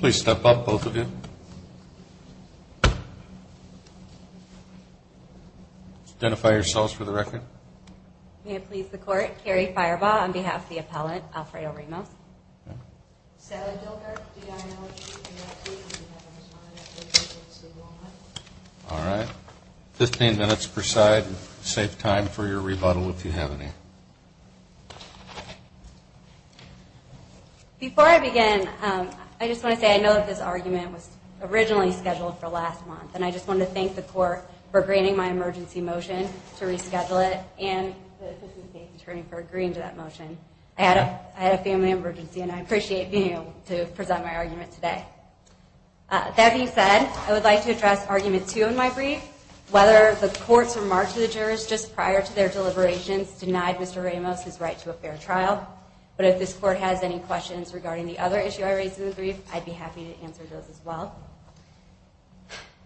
Please step up, both of you. Identify yourselves for the record. May it please the court, Carrie Firebaugh on behalf of the appellant, Alfredo Ramos. Sally Dilkirk, DIO. Alright, 15 minutes per side, save time for your rebuttal if you have any. Before I begin, I just want to say I know that this argument was originally scheduled for last month, and I just wanted to thank the court for granting my emergency motion to reschedule it and for agreeing to that motion. I had a family emergency and I appreciate being able to present my argument today. That being said, I would like to address argument two in my brief, whether the court's remark to the jurors just prior to their deliberations denied Mr. Ramos his right to a fair trial. But if this court has any questions regarding the other issue I raised in the brief, I'd be happy to answer those as well.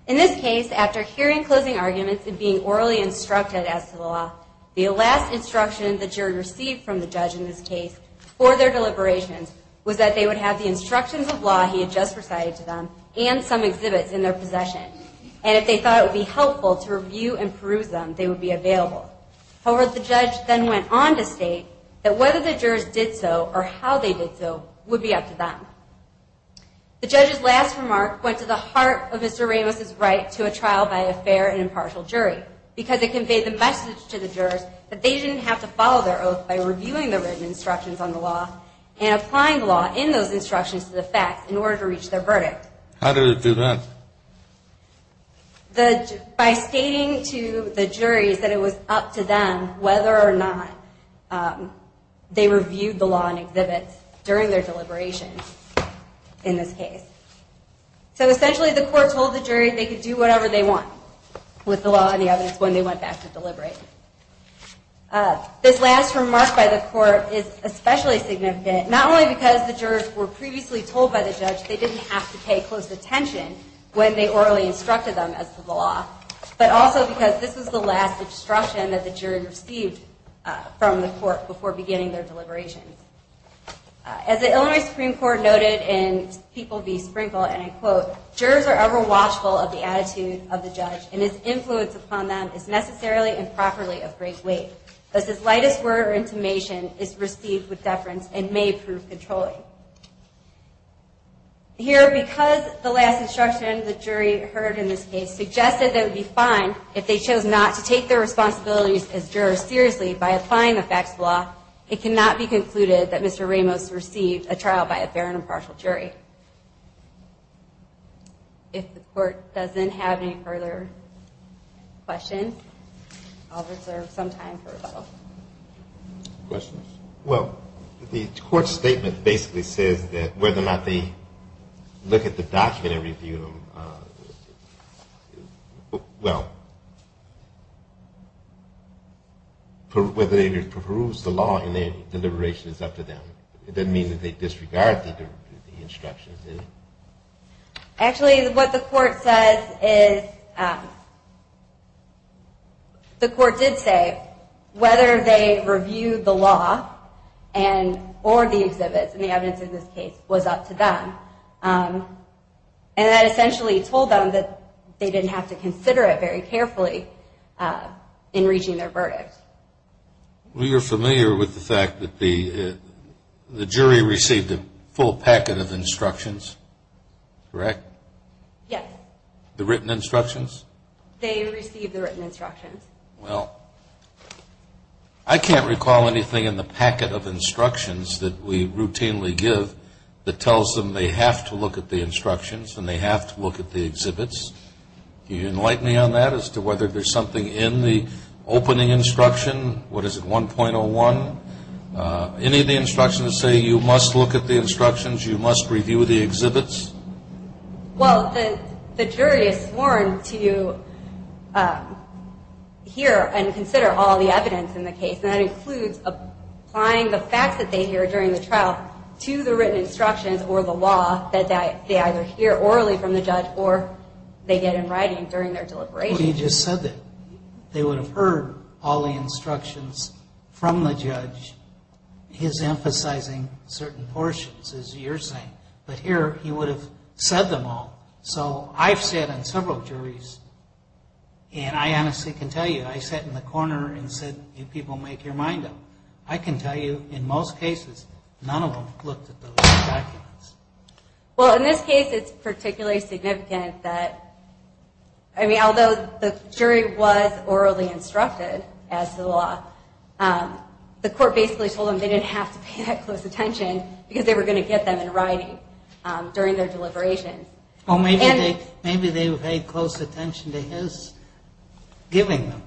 In this case, after hearing closing arguments and being orally instructed as to the law, the last instruction the jury received from the judge in this case for their deliberations was that they would have the instructions of law he had just recited to them and some exhibits in their possession. And if they thought it would be helpful to review and peruse them, they would be available. However, the judge then went on to state that whether the jurors did so or how they did so would be up to them. The judge's last remark went to the heart of Mr. Ramos' right to a trial by a fair and impartial jury because it conveyed the message to the jurors that they didn't have to follow their oath by reviewing the written instructions on the law and applying the law in those instructions to the facts in order to reach their verdict. How did it do that? By stating to the juries that it was up to them whether or not they reviewed the law and exhibits during their deliberations in this case. So essentially the court told the jury they could do whatever they want with the law and the evidence when they went back to deliberate. This last remark by the court is especially significant not only because the jurors were previously told by the judge they didn't have to pay close attention when they orally instructed them as to the law, but also because this was the last instruction that the jury received from the court before beginning their deliberations. As the Illinois Supreme Court noted in People v. Sprinkle, and I quote, Here, because the last instruction the jury heard in this case suggested that it would be fine if they chose not to take their responsibilities as jurors seriously by applying the facts of the law, it cannot be concluded that Mr. Ramos received a trial by a fair and impartial jury. If the court doesn't have any further questions, I'll reserve some time for rebuttal. Questions? Well, the court's statement basically says that whether or not they look at the document and review them, well, whether they peruse the law in their deliberations is up to them. It doesn't mean that they disregard the instructions, does it? Actually, what the court says is, the court did say whether they reviewed the law or the exhibits, and the evidence in this case, was up to them. And that essentially told them that they didn't have to consider it very carefully in reaching their verdict. Well, you're familiar with the fact that the jury received a full packet of instructions, correct? Yes. The written instructions? They received the written instructions. Well, I can't recall anything in the packet of instructions that we routinely give that tells them they have to look at the instructions and they have to look at the exhibits. Can you enlighten me on that, as to whether there's something in the opening instruction? What is it, 1.01? Any of the instructions say you must look at the instructions, you must review the exhibits? Well, the jury is sworn to hear and consider all the evidence in the case. And that includes applying the facts that they hear during the trial to the written instructions or the law that they either hear orally from the judge or they get in writing during their deliberation. Well, you just said that. They would have heard all the instructions from the judge, his emphasizing certain portions, as you're saying. But here, he would have said them all. So I've sat on several juries, and I honestly can tell you, I sat in the corner and said, you people make your mind up. I can tell you, in most cases, none of them looked at those documents. Well, in this case, it's particularly significant that, I mean, although the jury was orally instructed as to the law, the court basically told them they didn't have to pay that close attention because they were going to get them in writing during their deliberation. Well, maybe they paid close attention to his giving them.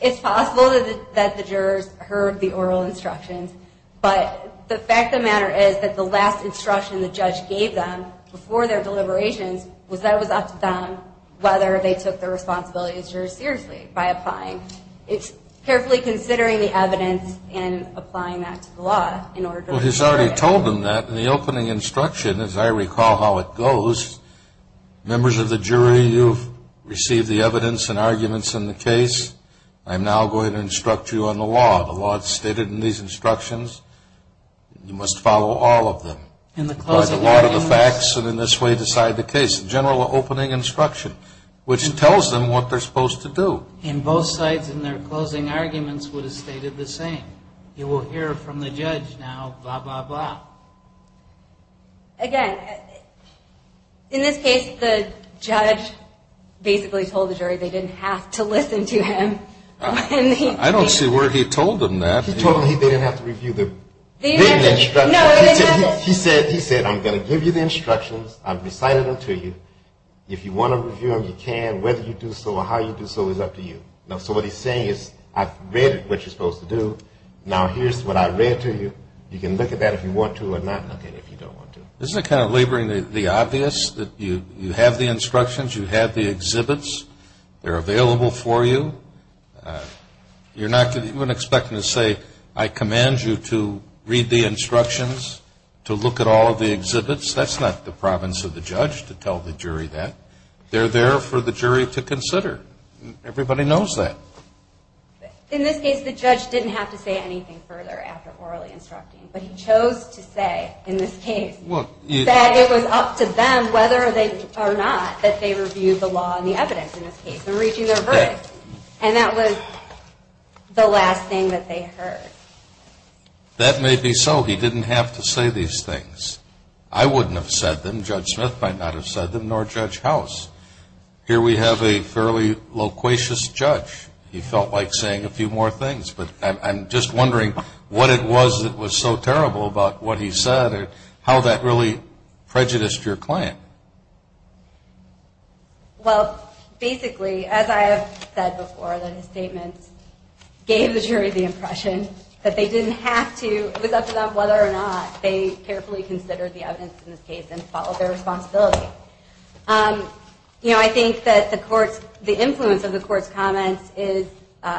It's possible that the jurors heard the oral instructions. But the fact of the matter is that the last instruction the judge gave them before their deliberations was that it was up to them whether they took the responsibility of the jurors seriously by applying. It's carefully considering the evidence and applying that to the law in order to be sure. Well, he's already told them that in the opening instruction, as I recall how it goes. Members of the jury, you've received the evidence and arguments in the case. I'm now going to instruct you on the law. The law is stated in these instructions. You must follow all of them. In the closing arguments. A lot of the facts, and in this way, decide the case. General opening instruction, which tells them what they're supposed to do. In both sides, in their closing arguments, would have stated the same. You will hear from the judge now, blah, blah, blah. Again, in this case, the judge basically told the jury they didn't have to listen to him. I don't see where he told them that. He told them they didn't have to review the written instructions. He said, I'm going to give you the instructions. I've recited them to you. If you want to review them, you can. Whether you do so or how you do so is up to you. So what he's saying is, I've read what you're supposed to do. Now, here's what I read to you. You can look at that if you want to or not look at it if you don't want to. Isn't it kind of laboring the obvious that you have the instructions, you have the exhibits, they're available for you. You're not going to expect them to say, I command you to read the instructions, to look at all of the exhibits. That's not the province of the judge to tell the jury that. They're there for the jury to consider. Everybody knows that. In this case, the judge didn't have to say anything further after orally instructing. But he chose to say, in this case, that it was up to them whether or not that they reviewed the law and the evidence in this case and reaching their verdict. And that was the last thing that they heard. That may be so. He didn't have to say these things. I wouldn't have said them. Judge Smith might not have said them, nor Judge House. Here we have a fairly loquacious judge. He felt like saying a few more things. But I'm just wondering what it was that was so terrible about what he said or how that really prejudiced your client. Well, basically, as I have said before, the statements gave the jury the impression that they didn't have to. It was up to them whether or not they carefully considered the evidence in this case and followed their responsibility. I think that the influence of the court's comments is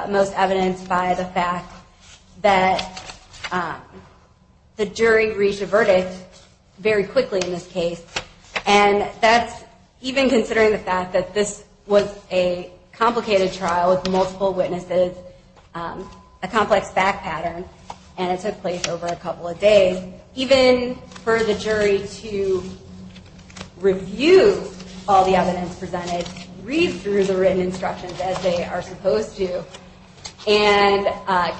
most evidenced by the fact that the jury reached a verdict very quickly in this case. And that's even considering the fact that this was a complicated trial with multiple witnesses, a complex fact pattern, and it took place over a couple of days. Even for the jury to review all the evidence presented, read through the written instructions as they are supposed to, and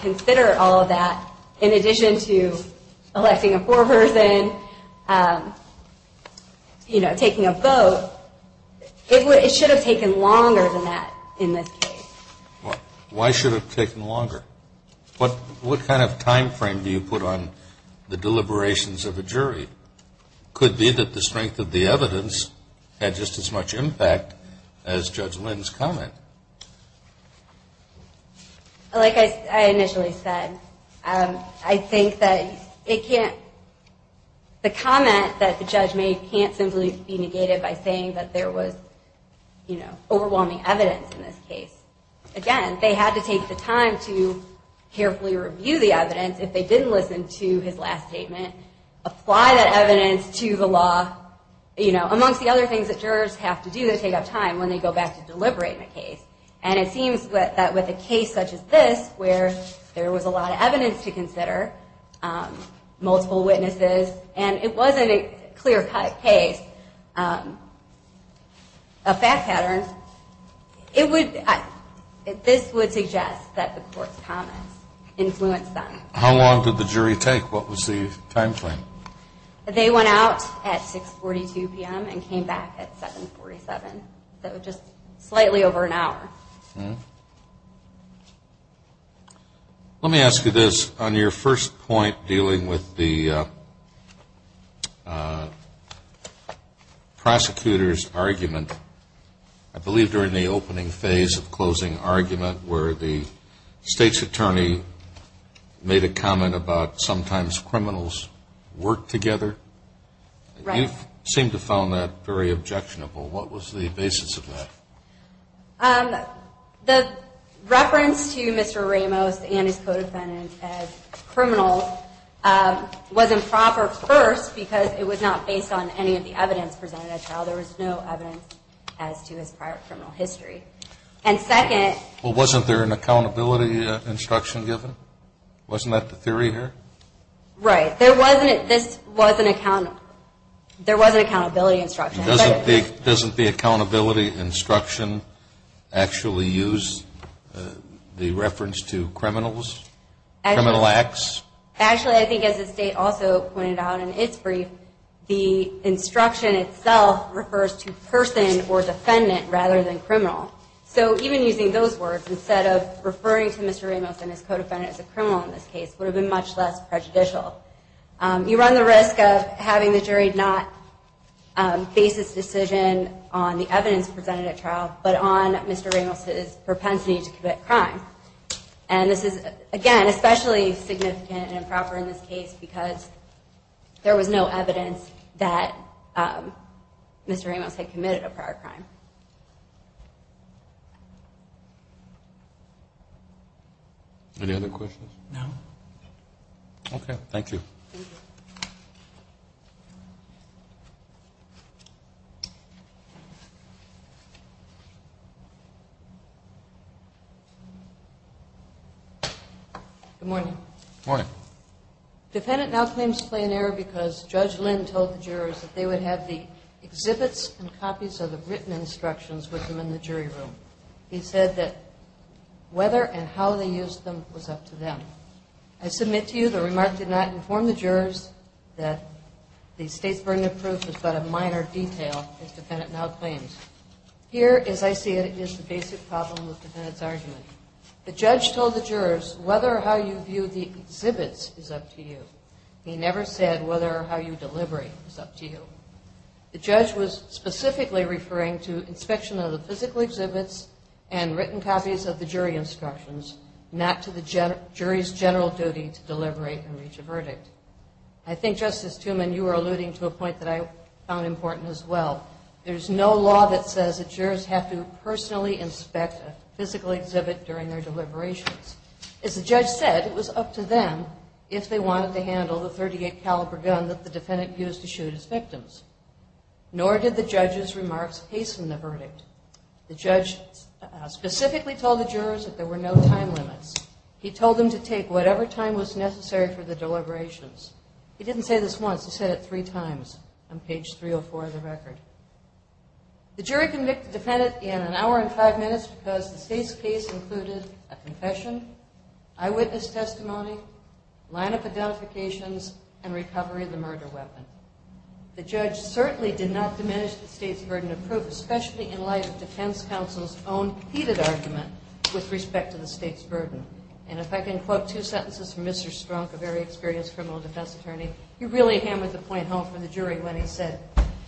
consider all of that in addition to electing a foreperson, taking a vote, it should have taken longer than that in this case. Why should it have taken longer? What kind of time frame do you put on the deliberations of a jury? Could it be that the strength of the evidence had just as much impact as Judge Lynn's comment? Like I initially said, I think that it can't – the comment that the judge made can't simply be negated by saying that there was, you know, overwhelming evidence in this case. Again, they had to take the time to carefully review the evidence. If they didn't listen to his last statement, apply that evidence to the law, you know, amongst the other things that jurors have to do to take up time when they go back to deliberate in a case. And it seems that with a case such as this, where there was a lot of evidence to consider, multiple witnesses, and it wasn't a clear-cut case, a fact pattern, it would – this would suggest that the court's comments influenced them. How long did the jury take? What was the time frame? They went out at 6.42 p.m. and came back at 7.47. So just slightly over an hour. Let me ask you this. On your first point dealing with the prosecutor's argument, I believe during the opening phase of closing argument, where the state's attorney made a comment about sometimes criminals work together. Right. You seem to have found that very objectionable. What was the basis of that? The reference to Mr. Ramos and his co-defendant as criminals was improper, first, because it was not based on any of the evidence presented at trial. There was no evidence as to his prior criminal history. And second – Well, wasn't there an accountability instruction given? Wasn't that the theory here? Right. There wasn't – this was an – there was an accountability instruction. Doesn't the accountability instruction actually use the reference to criminals, criminal acts? Actually, I think as the state also pointed out in its brief, the instruction itself refers to person or defendant rather than criminal. So even using those words instead of referring to Mr. Ramos and his co-defendant as a criminal in this case would have been much less prejudicial. You run the risk of having the jury not base its decision on the evidence presented at trial but on Mr. Ramos' propensity to commit crime. And this is, again, especially significant and improper in this case because there was no evidence that Mr. Ramos had committed a prior crime. Any other questions? No. Okay. Thank you. Good morning. Morning. Defendant now claims to play an error because Judge Lynn told the jurors that they would have the exhibits and copies of the written instructions with them in the jury room. He said that whether and how they used them was up to them. I submit to you the remark did not inform the jurors that the state's burden of proof is but a minor detail, as defendant now claims. Here, as I see it, is the basic problem with defendant's argument. The judge told the jurors whether or how you view the exhibits is up to you. He never said whether or how you deliver it is up to you. The judge was specifically referring to inspection of the physical exhibits and written copies of the jury instructions, not to the jury's general duty to deliberate and reach a verdict. I think, Justice Tumen, you were alluding to a point that I found important as well. There's no law that says that jurors have to personally inspect a physical exhibit during their deliberations. As the judge said, it was up to them if they wanted to handle the .38 caliber gun that the defendant used to shoot his victims. Nor did the judge's remarks hasten the verdict. The judge specifically told the jurors that there were no time limits. He told them to take whatever time was necessary for the deliberations. He didn't say this once. He said it three times on page 304 of the record. The jury convicted the defendant in an hour and five minutes because the state's case included a confession, eyewitness testimony, line-up identifications, and recovery of the murder weapon. The judge certainly did not diminish the state's burden of proof, especially in light of defense counsel's own heated argument with respect to the state's burden. And if I can quote two sentences from Mr. Strunk, a very experienced criminal defense attorney, he really hammered the point home for the jury when he said,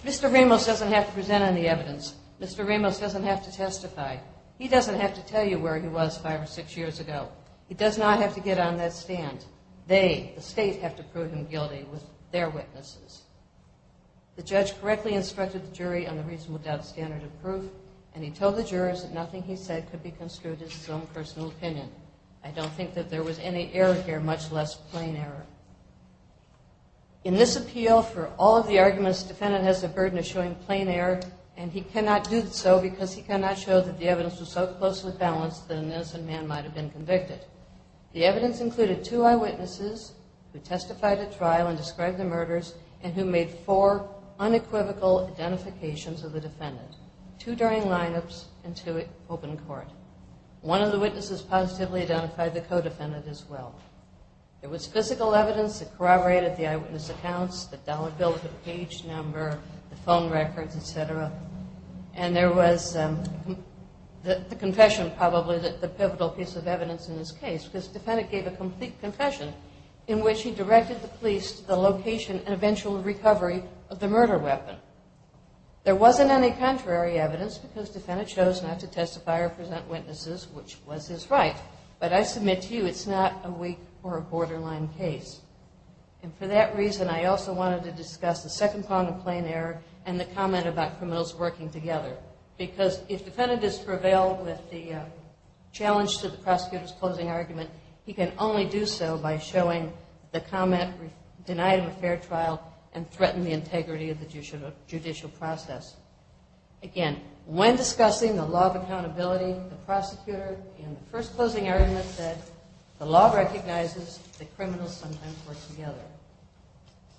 Mr. Ramos doesn't have to present any evidence. Mr. Ramos doesn't have to testify. He doesn't have to tell you where he was five or six years ago. He does not have to get on that stand. They, the state, have to prove him guilty with their witnesses. The judge correctly instructed the jury on the reasonable doubt standard of proof, and he told the jurors that nothing he said could be construed as his own personal opinion. I don't think that there was any error here, much less plain error. In this appeal, for all of the arguments, the defendant has the burden of showing plain error, and he cannot do so because he cannot show that the evidence was so closely balanced that an innocent man might have been convicted. The evidence included two eyewitnesses who testified at trial and described the murders and who made four unequivocal identifications of the defendant, two during lineups and two open court. One of the witnesses positively identified the co-defendant as well. There was physical evidence that corroborated the eyewitness accounts, the dollar bill, the page number, the phone records, et cetera, and there was the confession, probably the pivotal piece of evidence in this case because the defendant gave a complete confession in which he directed the police to the location and eventual recovery of the murder weapon. There wasn't any contrary evidence because the defendant chose not to testify or present witnesses, which was his right, but I submit to you it's not a weak or a borderline case. And for that reason, I also wanted to discuss the second point of plain error and the comment about criminals working together because if the defendant has prevailed with the challenge to the prosecutor's closing argument, he can only do so by showing the comment denied of a fair trial and threaten the integrity of the judicial process. Again, when discussing the law of accountability, the prosecutor in the first closing argument said, the law recognizes that criminals sometimes work together.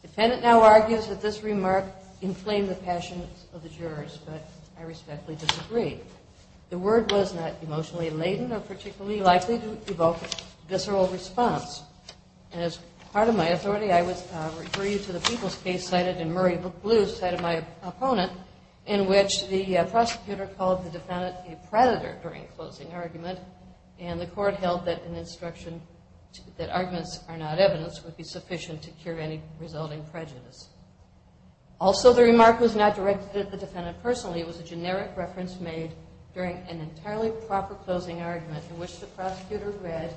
The defendant now argues that this remark inflamed the passions of the jurors, but I respectfully disagree. The word was not emotionally laden or particularly likely to evoke visceral response. And as part of my authority, I would refer you to the people's case cited in Murray Blue cited by my opponent in which the prosecutor called the defendant a predator during a closing argument, and the court held that an instruction that arguments are not evidence would be sufficient to cure any resulting prejudice. Also, the remark was not directed at the defendant personally. It was a generic reference made during an entirely proper closing argument in which the prosecutor read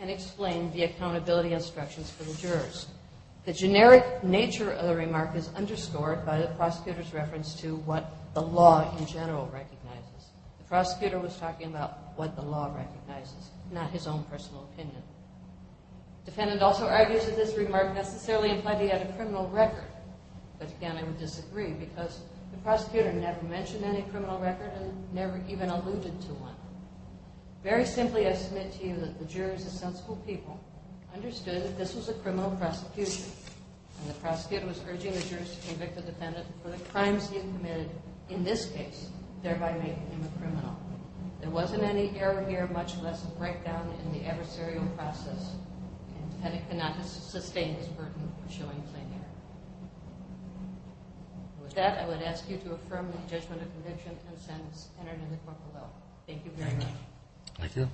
and explained the accountability instructions for the jurors. The generic nature of the remark is underscored by the prosecutor's reference to what the law in general recognizes. The prosecutor was talking about what the law recognizes, not his own personal opinion. The defendant also argues that this remark necessarily implied he had a criminal record, but again, I would disagree because the prosecutor never mentioned any criminal record and never even alluded to one. Very simply, I submit to you that the jurors, a sensible people, understood that this was a criminal prosecution, for the crimes he had committed in this case, thereby making him a criminal. There wasn't any error here, much less a breakdown in the adversarial process, and the defendant could not sustain this burden of showing plain error. With that, I would ask you to affirm the judgment of conviction and sentence entered in the court of law. Thank you very much. Thank you.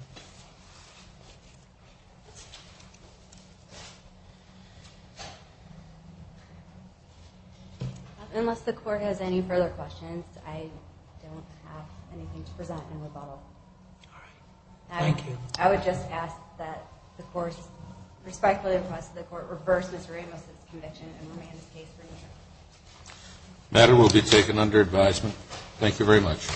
Unless the court has any further questions, I don't have anything to present in rebuttal. All right. Thank you. I would just ask that the court respectfully request that the court reverse Ms. Ramos' conviction and remand this case for neutral. The matter will be taken under advisement. Thank you very much.